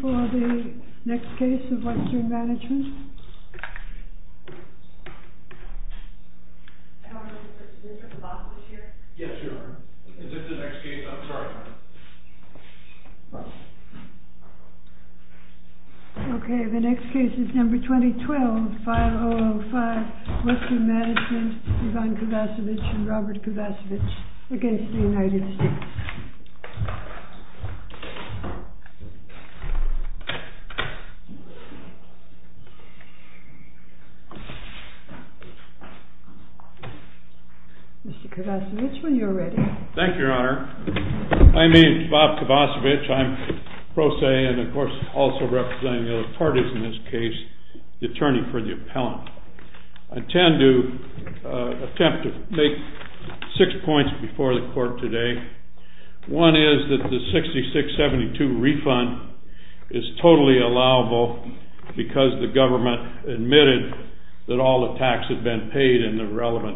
2012 5-005 WESTERN MANAGEMENT v. Ivan Kovacevich v. Robert Kovacevich v. United States 2012 5-005 WESTERN MANAGEMENT v. Robert Kovacevich v. United States 2012 5-005 WESTERN MANAGEMENT v. Ivan Kovacevich v. Robert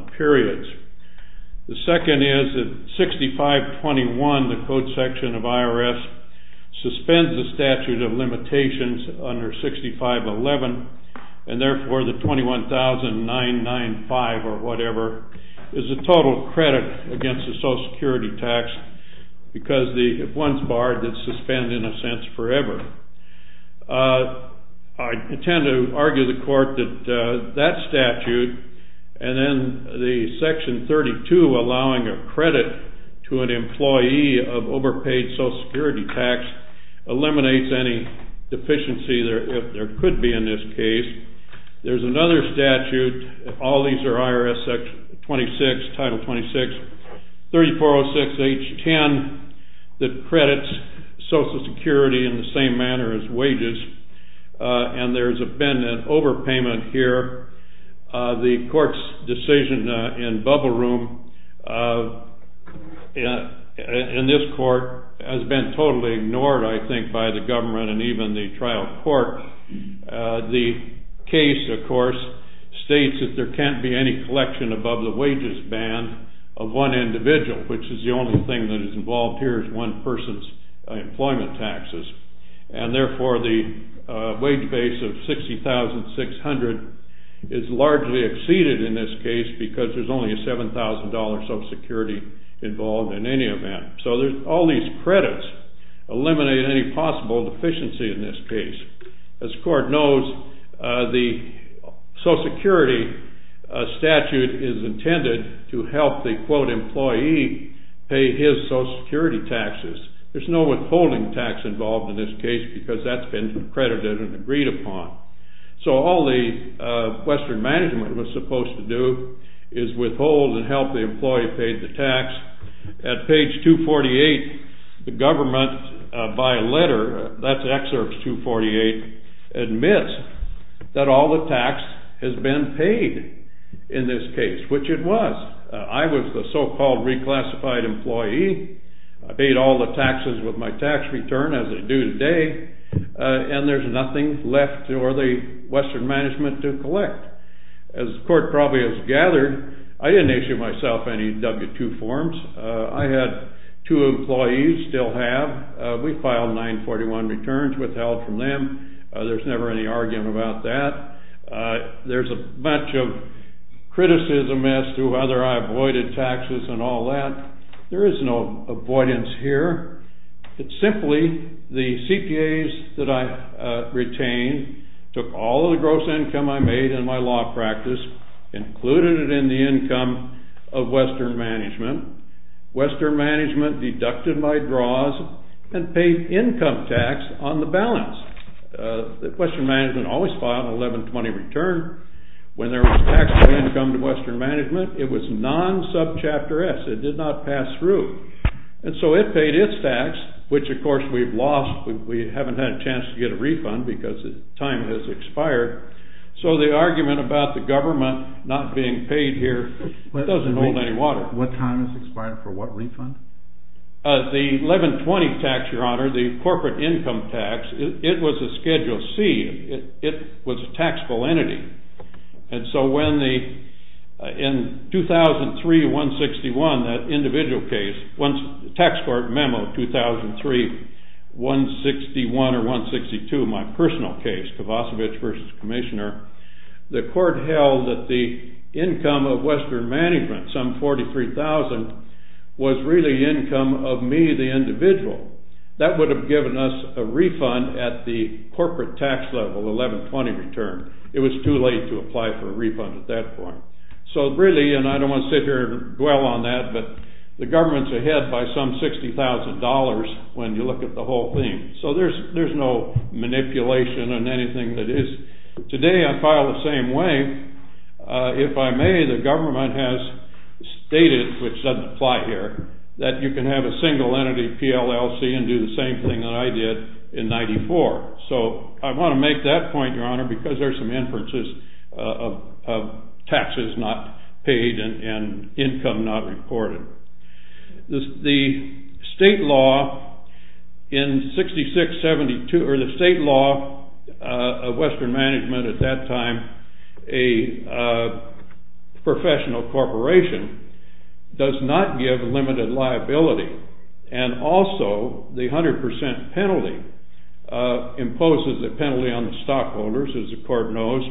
Kovacevich The second is that 6521, the code section of IRS, suspends the statute of limitations under 6511 and therefore the 21,995 or whatever is a total credit against the Social Security tax because if one's barred, it's suspended in a sense forever. I intend to argue the court that that statute and then the section 32 allowing a credit to an employee of overpaid Social Security tax eliminates any deficiency if there could be in this case. There's another statute, all these are IRS 26, Title 26, 3406H10 that credits Social Security in the same manner as wages and there's been an overpayment here the court's decision in bubble room in this court has been totally ignored I think by the government and even the trial court. The case of course states that there can't be any collection above the wages ban of one individual which is the only thing that is involved here is one person's employment taxes and therefore the wage base of 60,600 is largely exceeded in this case because there's only a $7,000 Social Security involved in any event. So there's all these credits eliminate any possible deficiency in this case. As court knows, the Social Security statute is intended to help the quote employee pay his Social Security taxes. There's no withholding tax involved in this case because that's been credited and agreed upon. So all the Western management was supposed to do is withhold and help the employee pay the tax. At page 248, the government by letter that's excerpt 248 admits that all the tax has been paid in this case, which it was. I was the so-called reclassified employee I paid all the taxes with my tax return as I do today and there's nothing left for the Western management to collect. As court probably has gathered I didn't issue myself any W-2 forms I had two employees, still have we filed 941 returns, withheld from them there's never any argument about that. There's a bunch of criticism as to whether I avoided taxes and all that there is no avoidance here it's simply the CPAs that I retained took all of the gross income I made in my law practice included it in the income of Western management Western management deducted my draws and paid income tax on the balance. Western management always filed an 1120 return when there was taxable income to Western management it was non-sub-chapter S it did not pass through and so it paid its tax which of course we've lost we haven't had a chance to get a refund because the time has expired so the argument about the government not being paid here doesn't hold any water. What time has expired for what refund? The 1120 tax, your honor the corporate income tax it was a Schedule C it was a taxable entity and so when the in 2003-161 that individual case tax court memo 2003-161 or 162 my personal case Kovacevic versus Commissioner the court held that the income of Western management some 43,000 was really income of me, the individual that would have given us a refund at the corporate tax level 1120 return it was too late to apply for a refund at that point so really, and I don't want to sit here and dwell on that but the government's ahead by some 60,000 dollars when you look at the whole thing so there's no manipulation in anything that is today I file the same way if I may, the government has stated, which doesn't apply here that you can have a single entity PLLC and do the same thing that I did in 94 so I want to make that point, your honor because there's some inferences of taxes not paid and income not reported the state law in 66-72 or the state law of Western management at that time a professional corporation does not give limited liability and also the 100% penalty imposes a penalty on the stockholders as the court knows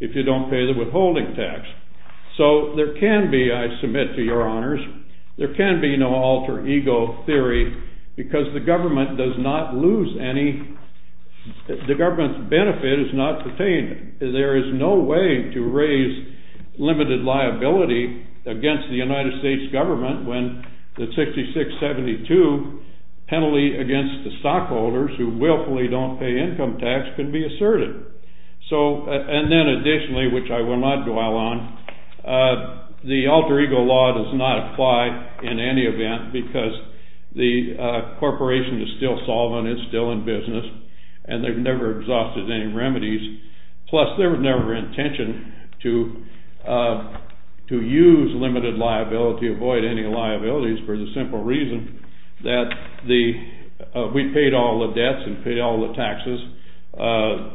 if you don't pay the withholding tax so there can be, I submit to your honors there can be no alter ego theory because the government does not lose any the government's benefit is not pertained there is no way to raise limited liability against the United States government when the 66-72 penalty against the stockholders who willfully don't pay income tax can be asserted so, and then additionally which I will not dwell on the alter ego law does not apply in any event because the corporation is still solvent it's still in business and they've never exhausted any remedies plus their never intention to use limited liability avoid any liabilities for the simple reason that we paid all the debts and paid all the taxes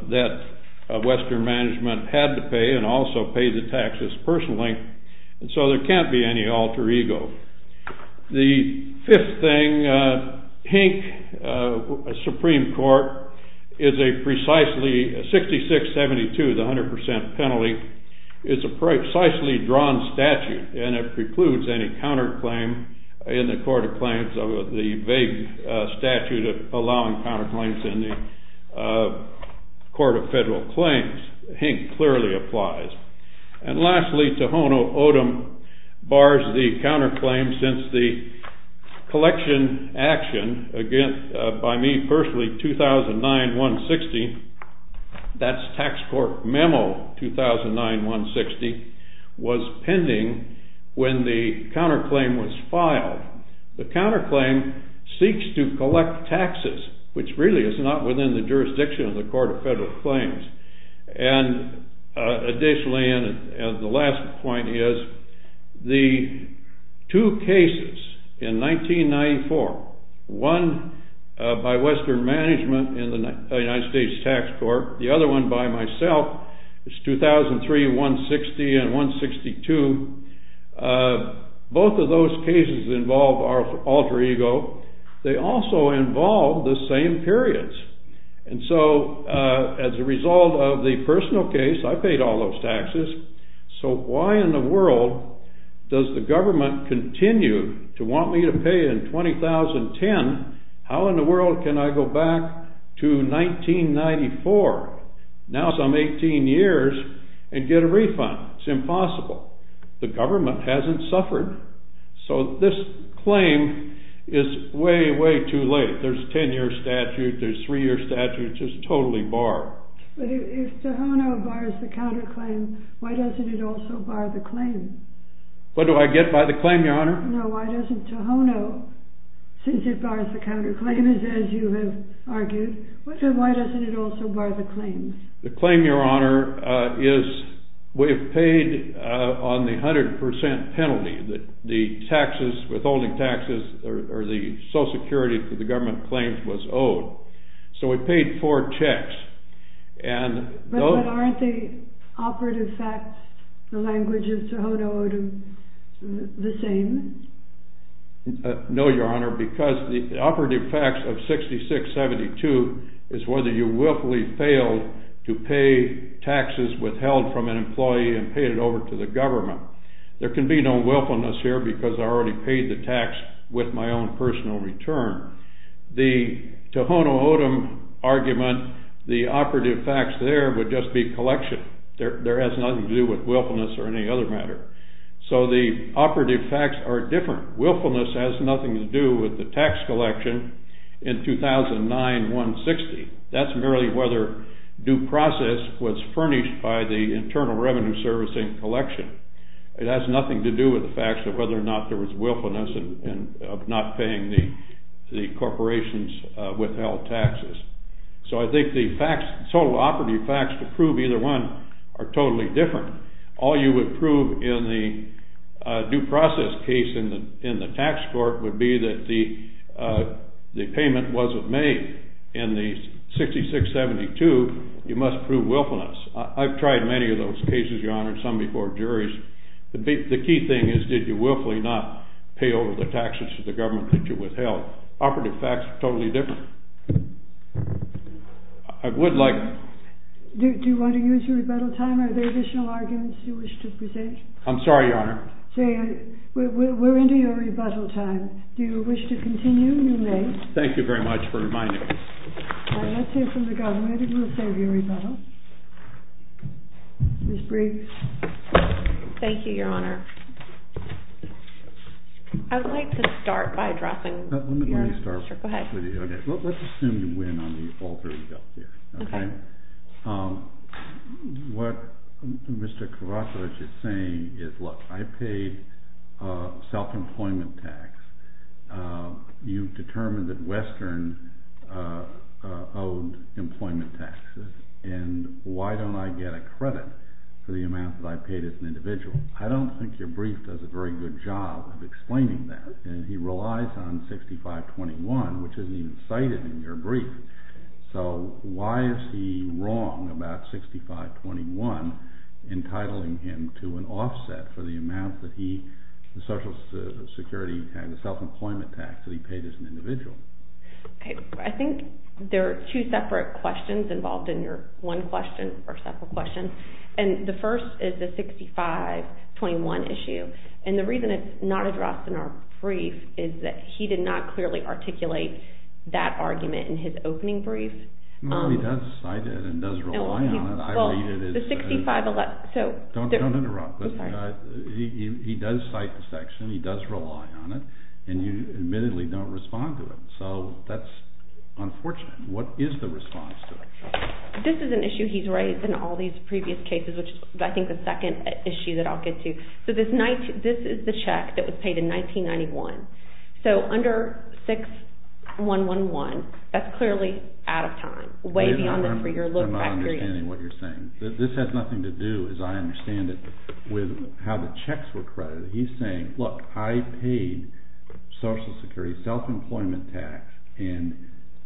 that Western management had to pay and also paid the taxes personally so there can't be any alter ego the fifth thing Hink Supreme Court is a precisely 66-72 the 100% penalty is a precisely drawn statute and it precludes any counter claim in the court of claims the vague statute of allowing counter claims in the court of federal claims Hink clearly applies and lastly Tohono O'odham bars the counter claims since the collection action by me personally 2009-160 that's tax court memo 2009-160 was pending when the counter claim was filed the counter claim seeks to collect taxes which really is not within the jurisdiction of the court of federal claims and additionally and the last point is the two cases in 1994 one by Western management in the United States tax court the other one by myself 2003-160 and 162 both of those cases involve alter ego they also involve the same periods and so as a result of the personal case I paid all those taxes so why in the world does the government continue to want me to pay in 2010 how in the world can I go back to 1994 now some 18 years and get a refund it's impossible the government hasn't suffered so this claim is way way too late there's 10 year statute there's 3 year statute just totally bar but if Tohono bars the counter claim why doesn't it also bar the claim what do I get by the claim your honor no why doesn't Tohono since it bars the counter claim as you have argued why doesn't it also bar the claim the claim your honor is we've paid on the 100% penalty the taxes withholding taxes or the social security for the government claims was owed so we paid 4 checks and those but aren't the operative facts the languages Tohono the same no your honor because the operative facts of 66-72 is whether you willfully failed to pay taxes withheld from an employee and paid it over to the government there can be no willfulness here because I already paid the tax with my own personal return the Tohono O'odham argument the operative facts there would just be collection there has nothing to do with willfulness or any other matter so the operative facts are different willfulness has nothing to do with the tax collection in 2009-160 that's merely whether due process was furnished by the internal revenue servicing collection. It has nothing to do with the facts of whether or not there was willfulness of not paying the corporations withheld taxes so I think the facts, the total operative facts to prove either one are totally different. All you would prove in the due process case in the tax court would be that the payment wasn't made in the 66-72 you must prove willfulness I've tried many of those cases your honor some before juries the key thing is did you willfully not pay over the taxes to the government that you withheld operative facts are totally different I would like Do you want to use your rebuttal time? Are there additional arguments you wish to present? I'm sorry your honor We're into your rebuttal time. Do you wish to continue? You may. Thank you very much for reminding us. Let's hear from the government and we'll save you a rebuttal. Ms. Briggs Thank you your honor I would like to start by addressing Let's assume you win on the alter ego theory What Mr. Carrasco was just saying is look I paid self-employment tax You've determined that Western owed employment taxes and why don't I get a credit for the amount that I paid as an individual I don't think your brief does a very good job of explaining that and he relies on 65-21 which isn't even cited in your brief so why is he wrong about 65-21 entitling him to an offset for the amount that he the social security self-employment tax that he paid as an individual I think there are two separate questions involved in your one question or several questions and the first is the 65-21 issue and the reason it's not addressed in our brief is that he did not clearly articulate that argument in his opening brief No he does cite it and does rely on it Don't interrupt He does cite the section, he does rely on it and you admittedly don't respond to it so that's unfortunate What is the response to it? This is an issue he's raised in all these previous cases which is I think the second issue that I'll get to This is the check that was paid in 1991 so under 61-11 that's clearly out of time I'm not understanding what you're saying. This has nothing to do as I understand it with how the checks were credited. He's saying look I paid social security self-employment tax and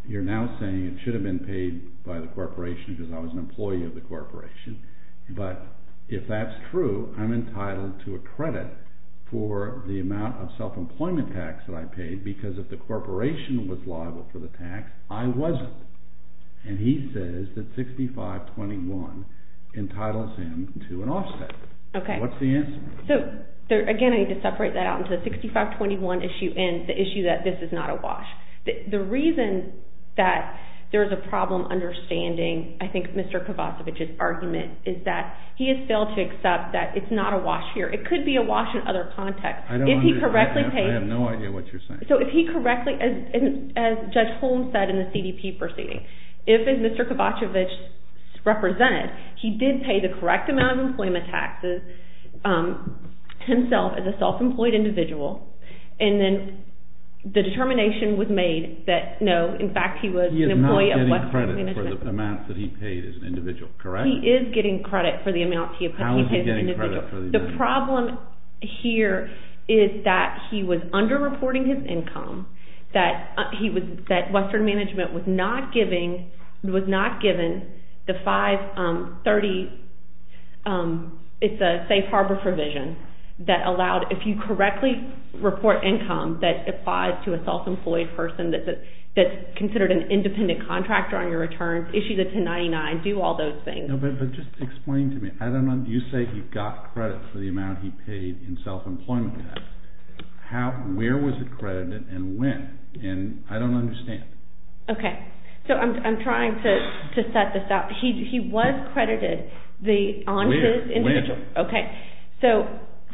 you're now saying it should have been paid by the corporation because I was an employee of the corporation but if that's true I'm entitled to a credit for the amount of self-employment tax that I paid because if the corporation was liable for the tax I wasn't and he says that 65-21 entitles him to an offset. What's the answer? Again I need to separate that out into the 65-21 issue and the issue that this is not a wash The reason that there's a problem understanding I think Mr. Kovacevic's argument is that he has failed to accept that it's not a wash here. It could be a wash in other contexts. If he correctly I have no idea what you're saying so if he correctly as Judge Holm said in the CDP proceeding if as Mr. Kovacevic represented he did pay the correct amount of employment taxes himself as a self-employed individual and then the determination was made that no in fact he was an employee of West Point Management He is not getting credit for the amount that he paid as an individual He is getting credit for the amount How is he getting credit for the amount? The problem here is that he was under-reporting his income that Western Management was not giving was not given the 530 it's a safe harbor provision that allowed if you correctly report income that applies to a self-employed person that's considered an independent contractor on your returns issue the 1099, do all those things But just explain to me you say he got credit for the amount he paid in self-employment tax Where was it credited and when? I don't understand I'm trying to set this up He was credited on his individual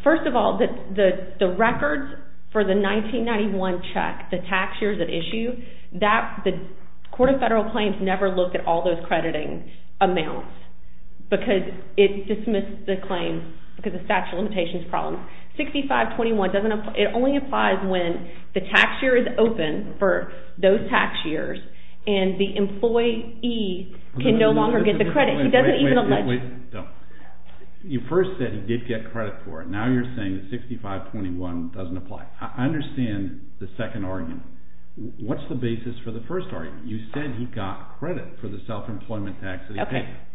First of all the records for the 1991 check the tax years at issue the Court of Federal Claims never looked at all those crediting amounts because it dismissed the claim because of statute of limitations 6521 it only applies when the tax year is open for those tax years and the employee can no longer get the credit You first said he did get credit for it, now you're saying 6521 doesn't apply I understand the second argument What's the basis for the first argument? You said he got credit for the self-employment tax that he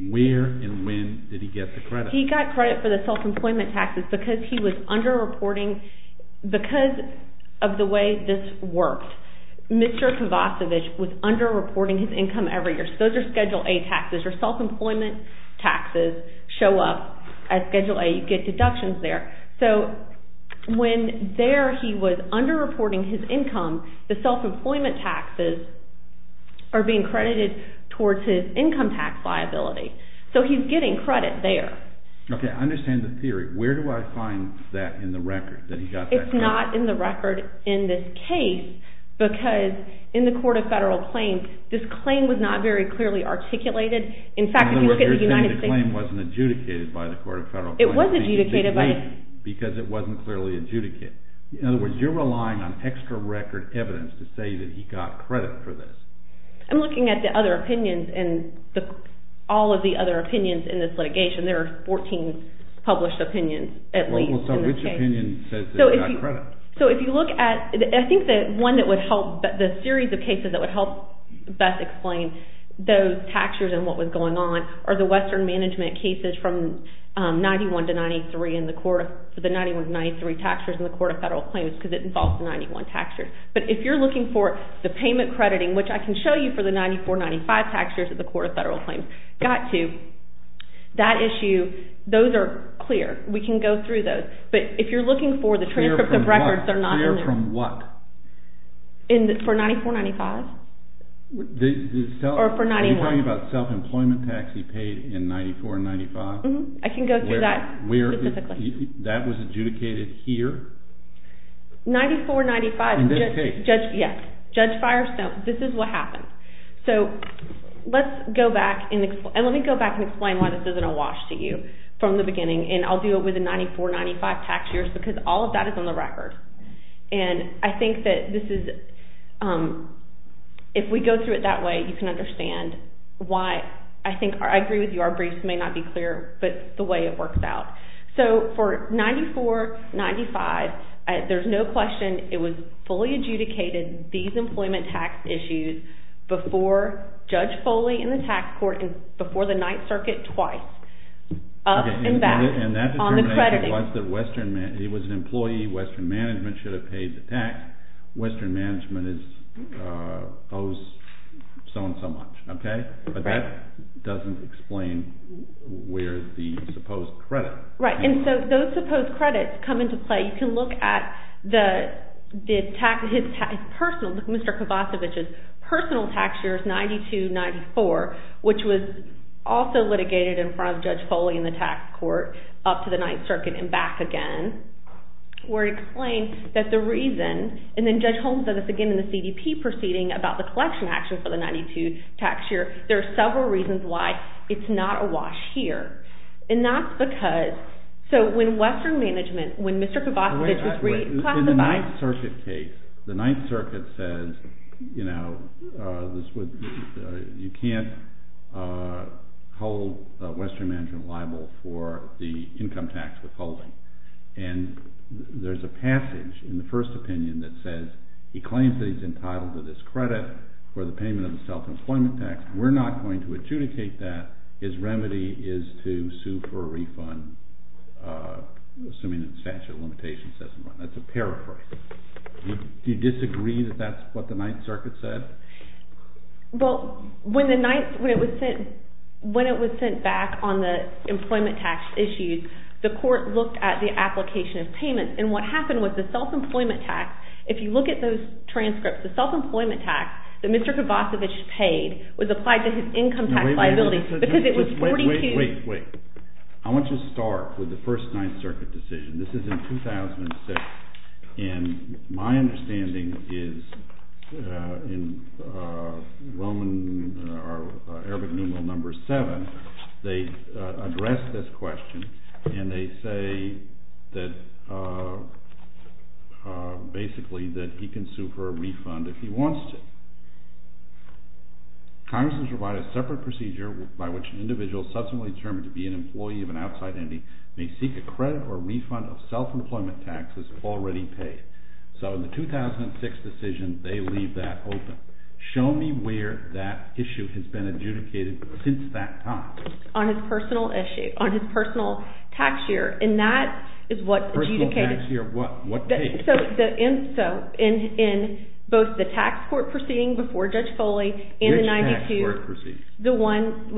paid Where and when did he get the credit? He got credit for the self-employment taxes because he was under-reporting because of the way this worked Mr. Kovacevic was under-reporting his income every year, so those are Schedule A taxes, or self-employment taxes show up at Schedule A, you get deductions there So when there he was under-reporting his income the self-employment taxes are being credited towards his income tax liability so he's getting credit there Ok, I understand the theory where do I find that in the record? It's not in the record in this case because in the Court of Federal Claims this claim was not very clearly articulated In fact, if you look at the United States The claim wasn't adjudicated by the Court of Federal Claims It was adjudicated because it wasn't clearly adjudicated In other words, you're relying on extra record evidence to say that he got credit I'm looking at the other opinions all of the other opinions in this litigation there are 14 published opinions at least in this case So if you look at I think that one that would help the series of cases that would help best explain those taxtures and what was going on are the Western Management cases from 91 to 93 in the Court of the 91 to 93 taxtures in the Court of Federal Claims because it involves the 91 taxtures but if you're looking for the payment crediting, which I can show you for the 94-95 taxtures in the Court of Federal Claims got to that issue, those are clear we can go through those, but if you're looking for the transcripts of records, they're not in there Clear from what? For 94-95? Or for 91? Are you talking about self-employment tax he paid in 94-95? I can go through that That was adjudicated here? 94-95 In this case? Yes, Judge Firestone, this is what happened So let's go back and let me go back and explain why this isn't a wash to you from the beginning and I'll do it with the 94-95 taxtures because all of that is on the record and I think that this is if we go through it that way, you can understand why, I think, I agree with you our briefs may not be clear, but the way it works out, so for 94-95 there's no question it was fully adjudicated, these employment tax issues, before Judge Foley and the tax court before the Ninth Circuit twice up and back on the credit it was an employee, Western Management should have paid the tax, Western Management is so and so much, okay? But that doesn't explain where the supposed credit. Right, and so those supposed credits come into play, you can look at the tax personal, Mr. Kovacevic's personal tax years, 92-94 which was also litigated in front of Judge Foley and the tax court up to the Ninth Circuit and back again where he claims that the reason and then Judge Holmes does this again in the CDP proceeding about the collection action for the 92 tax year, there are several reasons why it's not a wash here, and that's because so when Western Management when Mr. Kovacevic's In the Ninth Circuit case, the Ninth Circuit says, you know this would you can't hold Western Management liable for the income tax withholding and there's a passage in the first opinion that says, he claims that he's entitled to this credit for the payment of the self-employment tax, we're not going to sue for a refund assuming that the statute of limitations says so, that's a paraphrase Do you disagree that that's what the Ninth Circuit said? Well, when the Ninth, when it was sent back on the employment tax issues, the court looked at the application of payments and what happened was the self-employment tax if you look at those transcripts, the self-employment tax that Mr. Kovacevic paid was applied to his income tax Wait, wait, wait I want to start with the first Ninth Circuit decision this is in 2006 and my understanding is in Roman Arabic numeral number 7 they address this question and they say that basically that he can sue for a refund if he wants to Congress has provided a separate procedure by which an individual subsequently determined to be an employee of an outside entity may seek a credit or refund of self-employment taxes already paid. So in the 2006 decision, they leave that open Show me where that issue has been adjudicated since that time. On his personal issue on his personal tax year and that is what adjudicated Personal tax year, what, what page? In both the tax court proceeding before Judge Foley and the 92 the one,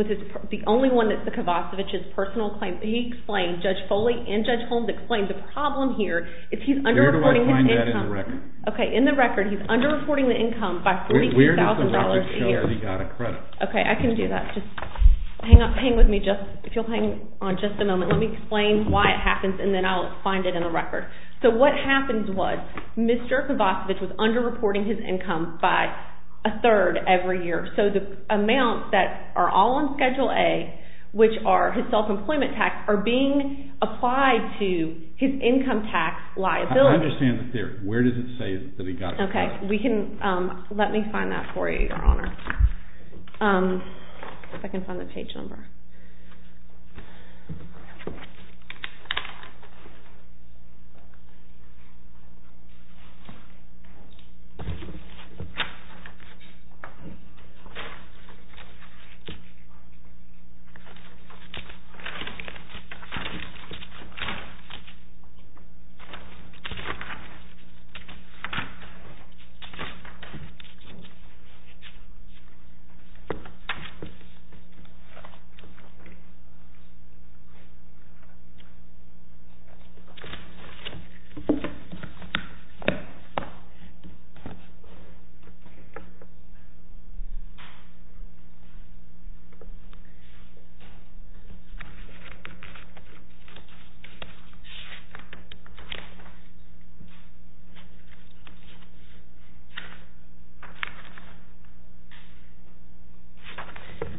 the only one that's the Kovacevic's personal claim he explained, Judge Foley and Judge Holmes explained the problem here is he's under-reporting Where do I find that in the record? Okay, in the record, he's under-reporting the income by $32,000 a year. Where does the record show that he got a credit? Okay, I can do that Hang with me just, if you'll hang on just a moment, let me explain why it happens and then I'll find it in the record So what happens was Mr. Kovacevic was under-reporting his income by a third every year, so the amounts that are all on Schedule A which are his self-employment tax are being applied to his income tax liability I understand the theory, where does it say that he got a credit? Okay, we can let me find that for you, Your Honor If I can find the page number Okay Okay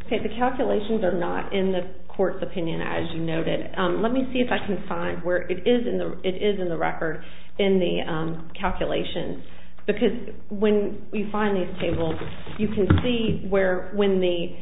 Okay, the calculations are not in the court's opinion as you noted Let me see if I can find where it is It is in the record in the calculations because when you find these tables you can see where when the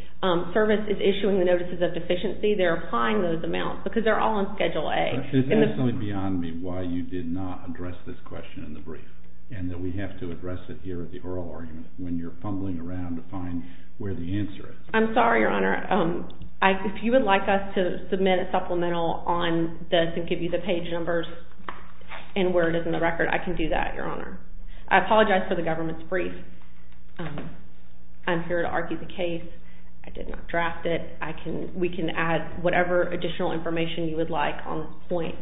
service is issuing the notices of deficiency, they're applying those amounts, because they're all on Schedule A It's absolutely beyond me why you did not address this question in the brief and that we have to address it here at the oral argument when you're fumbling around to find where the answer is I'm sorry, Your Honor If you would like us to submit a supplemental on this and give you the page numbers and where it is in the record I can do that, Your Honor I apologize for the government's brief I'm here to argue the case I did not draft it We can add whatever additional information you would like on this point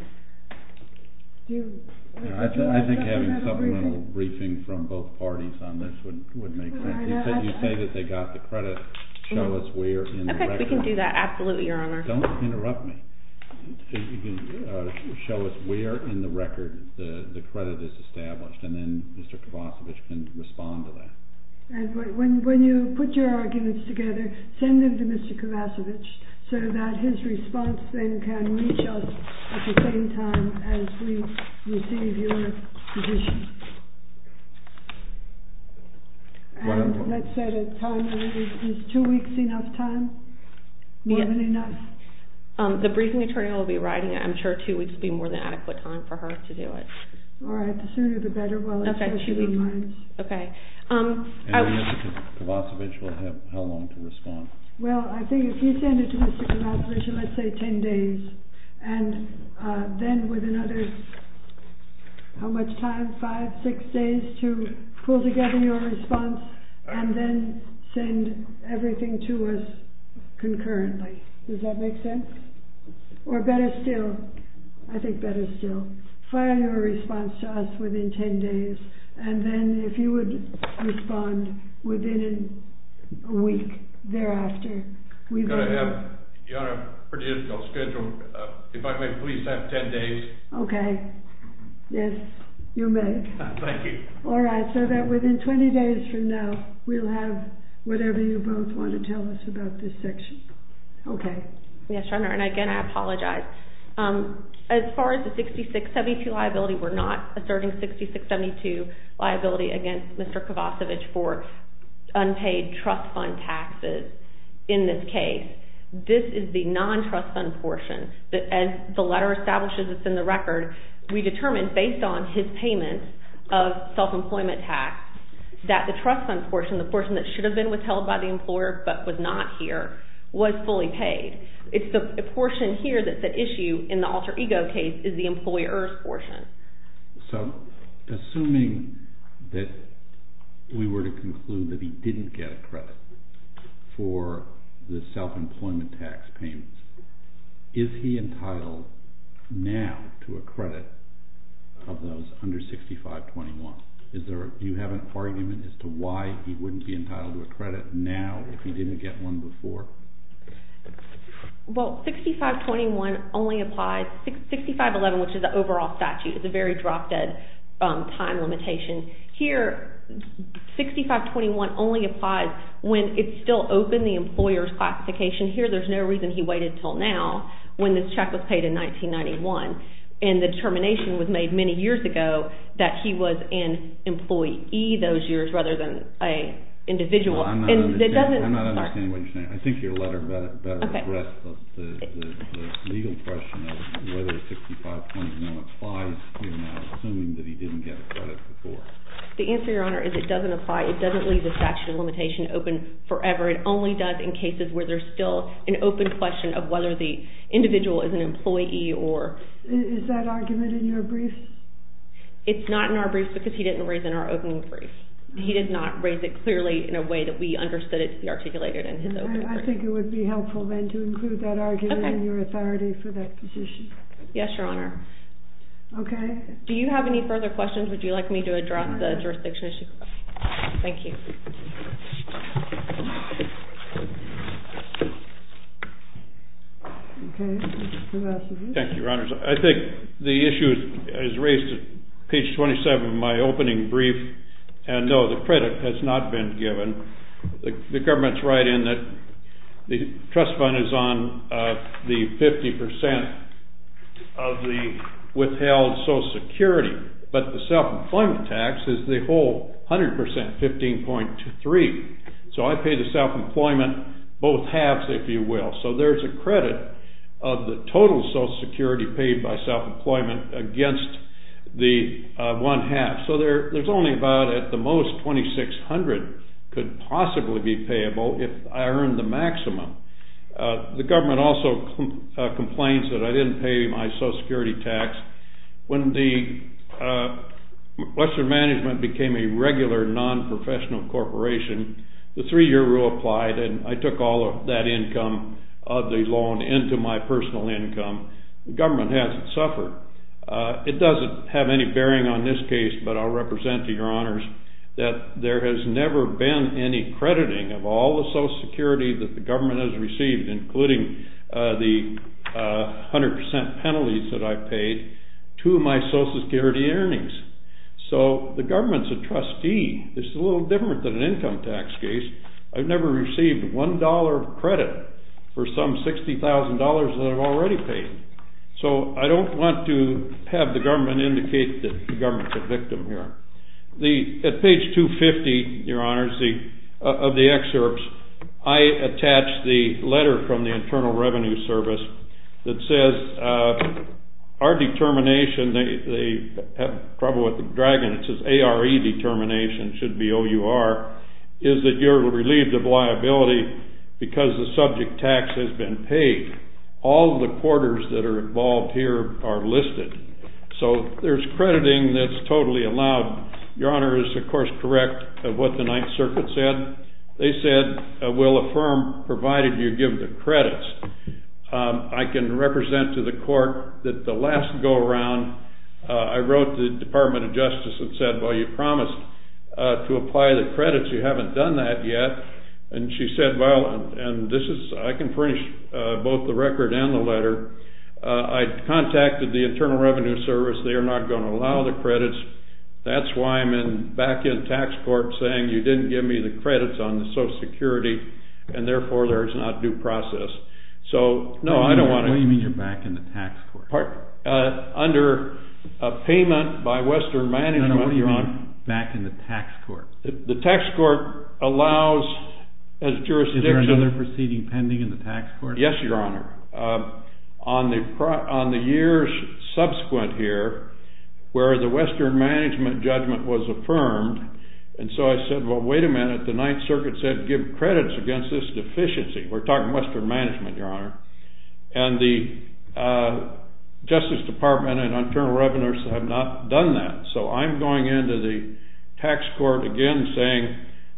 I think having supplemental briefing from both parties on this would make sense You say that they got the credit Show us where in the record We can do that, absolutely, Your Honor Don't interrupt me Show us where in the record the credit is established and then Mr. Kovacevic can respond to that When you put your arguments together send them to Mr. Kovacevic so that his response then can reach us at the same time as we receive your position Let's say the time Is two weeks enough time? More than enough? The briefing attorney will be writing it I'm sure two weeks would be more than adequate time for her to do it Alright, the sooner the better And Mr. Kovacevic will have how long to respond? Well, I think if you send it to Mr. Kovacevic, let's say ten days and then with another how much time, five, six days to pull together your response and then send everything to us concurrently, does that make sense? Or better still I think better still file your response to us within ten days and then if you would respond within a week thereafter we will know Your Honor, I have a pretty difficult schedule If I may please have ten days Okay, yes You may Thank you Alright, so that within twenty days from now we'll have whatever you both want to tell us about this section Okay Yes, Your Honor, and again I apologize As far as the 66-72 liability we're not asserting 66-72 liability against Mr. Kovacevic for unpaid trust fund taxes in this case This is the non-trust fund portion As the letter establishes it's in the record we determined based on his payments of self-employment tax that the trust fund portion the portion that should have been withheld by the employer but was not here was fully paid It's the portion here that's at issue in the alter ego case is the employer's portion So, assuming that we were to conclude that he didn't get a credit for the self-employment tax payments is he entitled now to a credit of those under 65-21? Do you have an argument as to why he wouldn't be entitled to a credit now if he didn't get one before? Well, 65-21 only applies 65-11, which is the overall statute is a very drop-dead time limitation Here 65-21 only applies when it's still open, the employer's classification, here there's no reason he waited until now when this check was paid in 1991 and the determination was made many years ago that he was an employee those years rather than an individual I'm not understanding what you're saying. I think your letter better addresses the legal question of whether 65-21 applies assuming that he didn't get a credit before The answer, Your Honor, is it doesn't apply It doesn't leave the statute of limitations open forever. It only does in cases where there's still an open question of whether the individual is an employee or... Is that argument in your brief? It's not in our brief because he didn't raise it in our opening brief. He did not raise it clearly in a way that we understood it to be articulated in his opening brief. I think it would be helpful then to include that argument in your authority for that position Yes, Your Honor Do you have any further questions? Would you like me to address the jurisdiction issue? Thank you Okay Thank you, Your Honors. I think the issue is raised at page 27 of my opening brief, and no, the credit has not been given The government's right in that the trust fund is on the 50% of the withheld Social Security, but the self-employment tax is the whole 100%, 15.3 So I pay the self-employment both halves, if you will. So there's a credit of the total Social Security paid by self-employment against the one half. So there's only about, at the most, 2600 could possibly be payable if I earn the maximum The government also complains that I didn't pay my Social Security tax When the Western Management became a regular non-professional corporation the three year rule applied and I took all of that income of the loan into my personal income. The government hasn't suffered. It doesn't have any bearing on this case, but I'll represent to Your Honors that there has never been any crediting of all the Social Security that the government has received, including the 100% penalties that I've paid to my Social Security earnings So the government's a trustee This is a little different than an income tax case. I've never received $1 credit for some $60,000 that I've already paid So I don't want to have the government indicate that the government's a victim here At page 250, Your Honors of the excerpts I attach the letter from the Internal Revenue Service that says our determination probably with the dragon and it says ARE determination should be OUR is that you're relieved of liability because the subject tax has been paid. All the quarters that are involved here are listed So there's crediting that's totally allowed Your Honor is of course correct of what the Ninth Circuit said. They said we'll affirm provided you give the credits I can represent to the court that the last go around I wrote to the Department of Justice and said well you promised to apply the credits you haven't done that yet and she said well and this is I can furnish both the record and the letter I contacted the Internal Revenue Service they're not going to allow the credits that's why I'm back in tax court saying you didn't give me the credits on the Social Security and therefore there's not due process So no I don't want to What do you mean you're back in the tax court? Under payment by Western Management What do you mean back in the tax court? The tax court allows Is there another proceeding pending in the tax court? Yes Your Honor On the years subsequent here where the Western Management judgment was affirmed and so I said well wait a minute the Ninth Circuit said give credits against this deficiency. We're talking Western The Justice Department and Internal Revenues have not done that so I'm going into the tax court again saying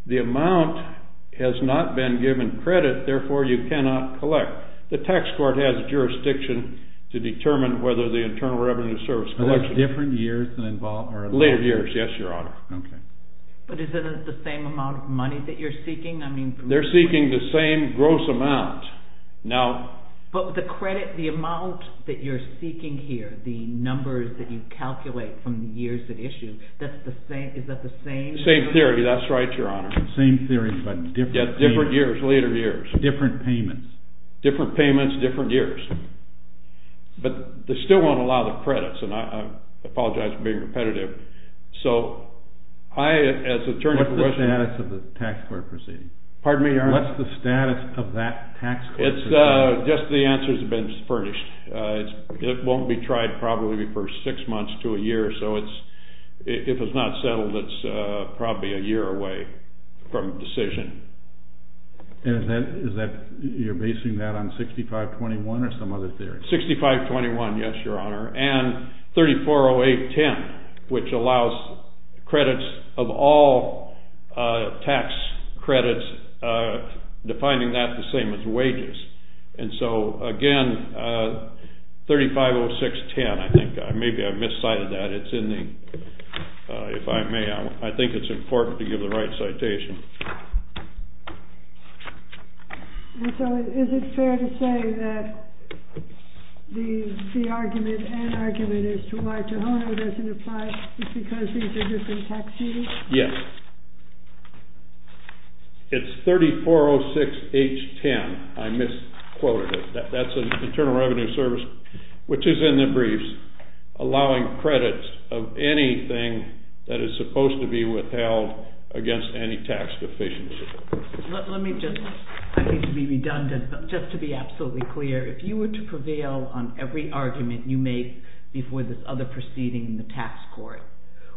the amount has not been given credit therefore you cannot collect the tax court has jurisdiction to determine whether the Internal Revenue Service collection. Are there different years? Later years yes Your Honor But isn't it the same amount of money that you're seeking? They're seeking the same gross amount But the credit the amount that you're seeking here, the numbers that you calculate from the years that issue is that the same? Same theory that's right Your Honor Different years, later years Different payments Different payments, different years But they still won't allow the credits and I apologize for being repetitive So What's the status of the tax court proceeding? Pardon me Your Honor? What's the status of that tax court proceeding? Just the answers have been furnished It won't be tried probably for six months to a year so it's if it's not settled it's probably a year away from decision And is that you're basing that on 6521 or some other theory? 6521 yes Your Honor and 340810 which allows credits of all tax credits defining that the same as wages and so again 350610 I think maybe I've miscited that If I may I think it's important to give the right citation So is it fair to say that the argument and argument is why Tohono doesn't apply is because these are different Yes It's 3406H10 I misquoted it That's an Internal Revenue Service which is in the briefs allowing credits of anything that is supposed to be withheld against any tax deficiency Let me just, I hate to be redundant but just to be absolutely clear if you were to prevail on every argument you make before this other proceeding the tax court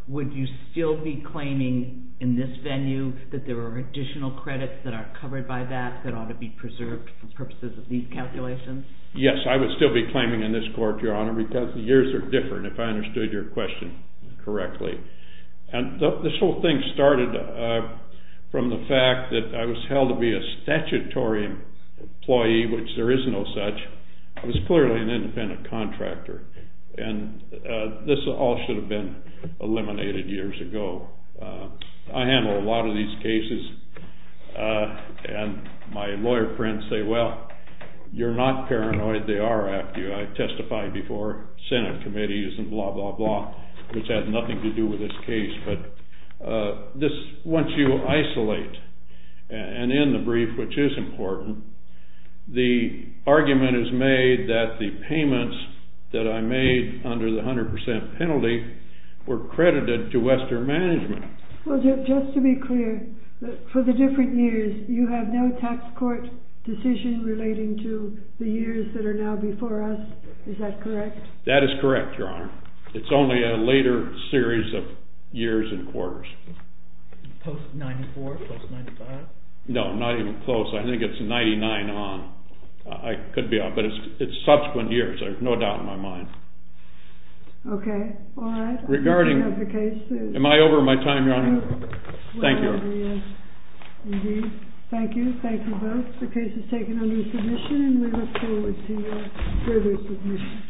would you still be claiming in this venue that there are additional credits that are covered by that that ought to be preserved for purposes of these calculations? Yes I would still be claiming in this court Your Honor because the years are different if I understood your question correctly This whole thing started from the fact that I was held to be a statutory employee which there is no such I was clearly an independent contractor and this all should have been eliminated years ago I handle a lot of these cases and my lawyer friends say well you're not paranoid, they are after you I testified before Senate committees and blah blah blah which had nothing to do with this case but this, once you isolate and in the brief which is important the argument is made that the payments that I made under the 100% penalty were credited to Western Management Just to be clear, for the different years you have no tax court decision relating to the years that are now before us is that correct? That is correct Your Honor, it's only a later series of years and quarters Post 94? Post 95? No, not even close, I think it's 99 on I could be wrong, but it's subsequent years, there's no doubt in my mind Okay, alright Regarding, am I over my time Your Honor? Thank you Thank you, thank you both The case is taken under submission and we look forward to further submission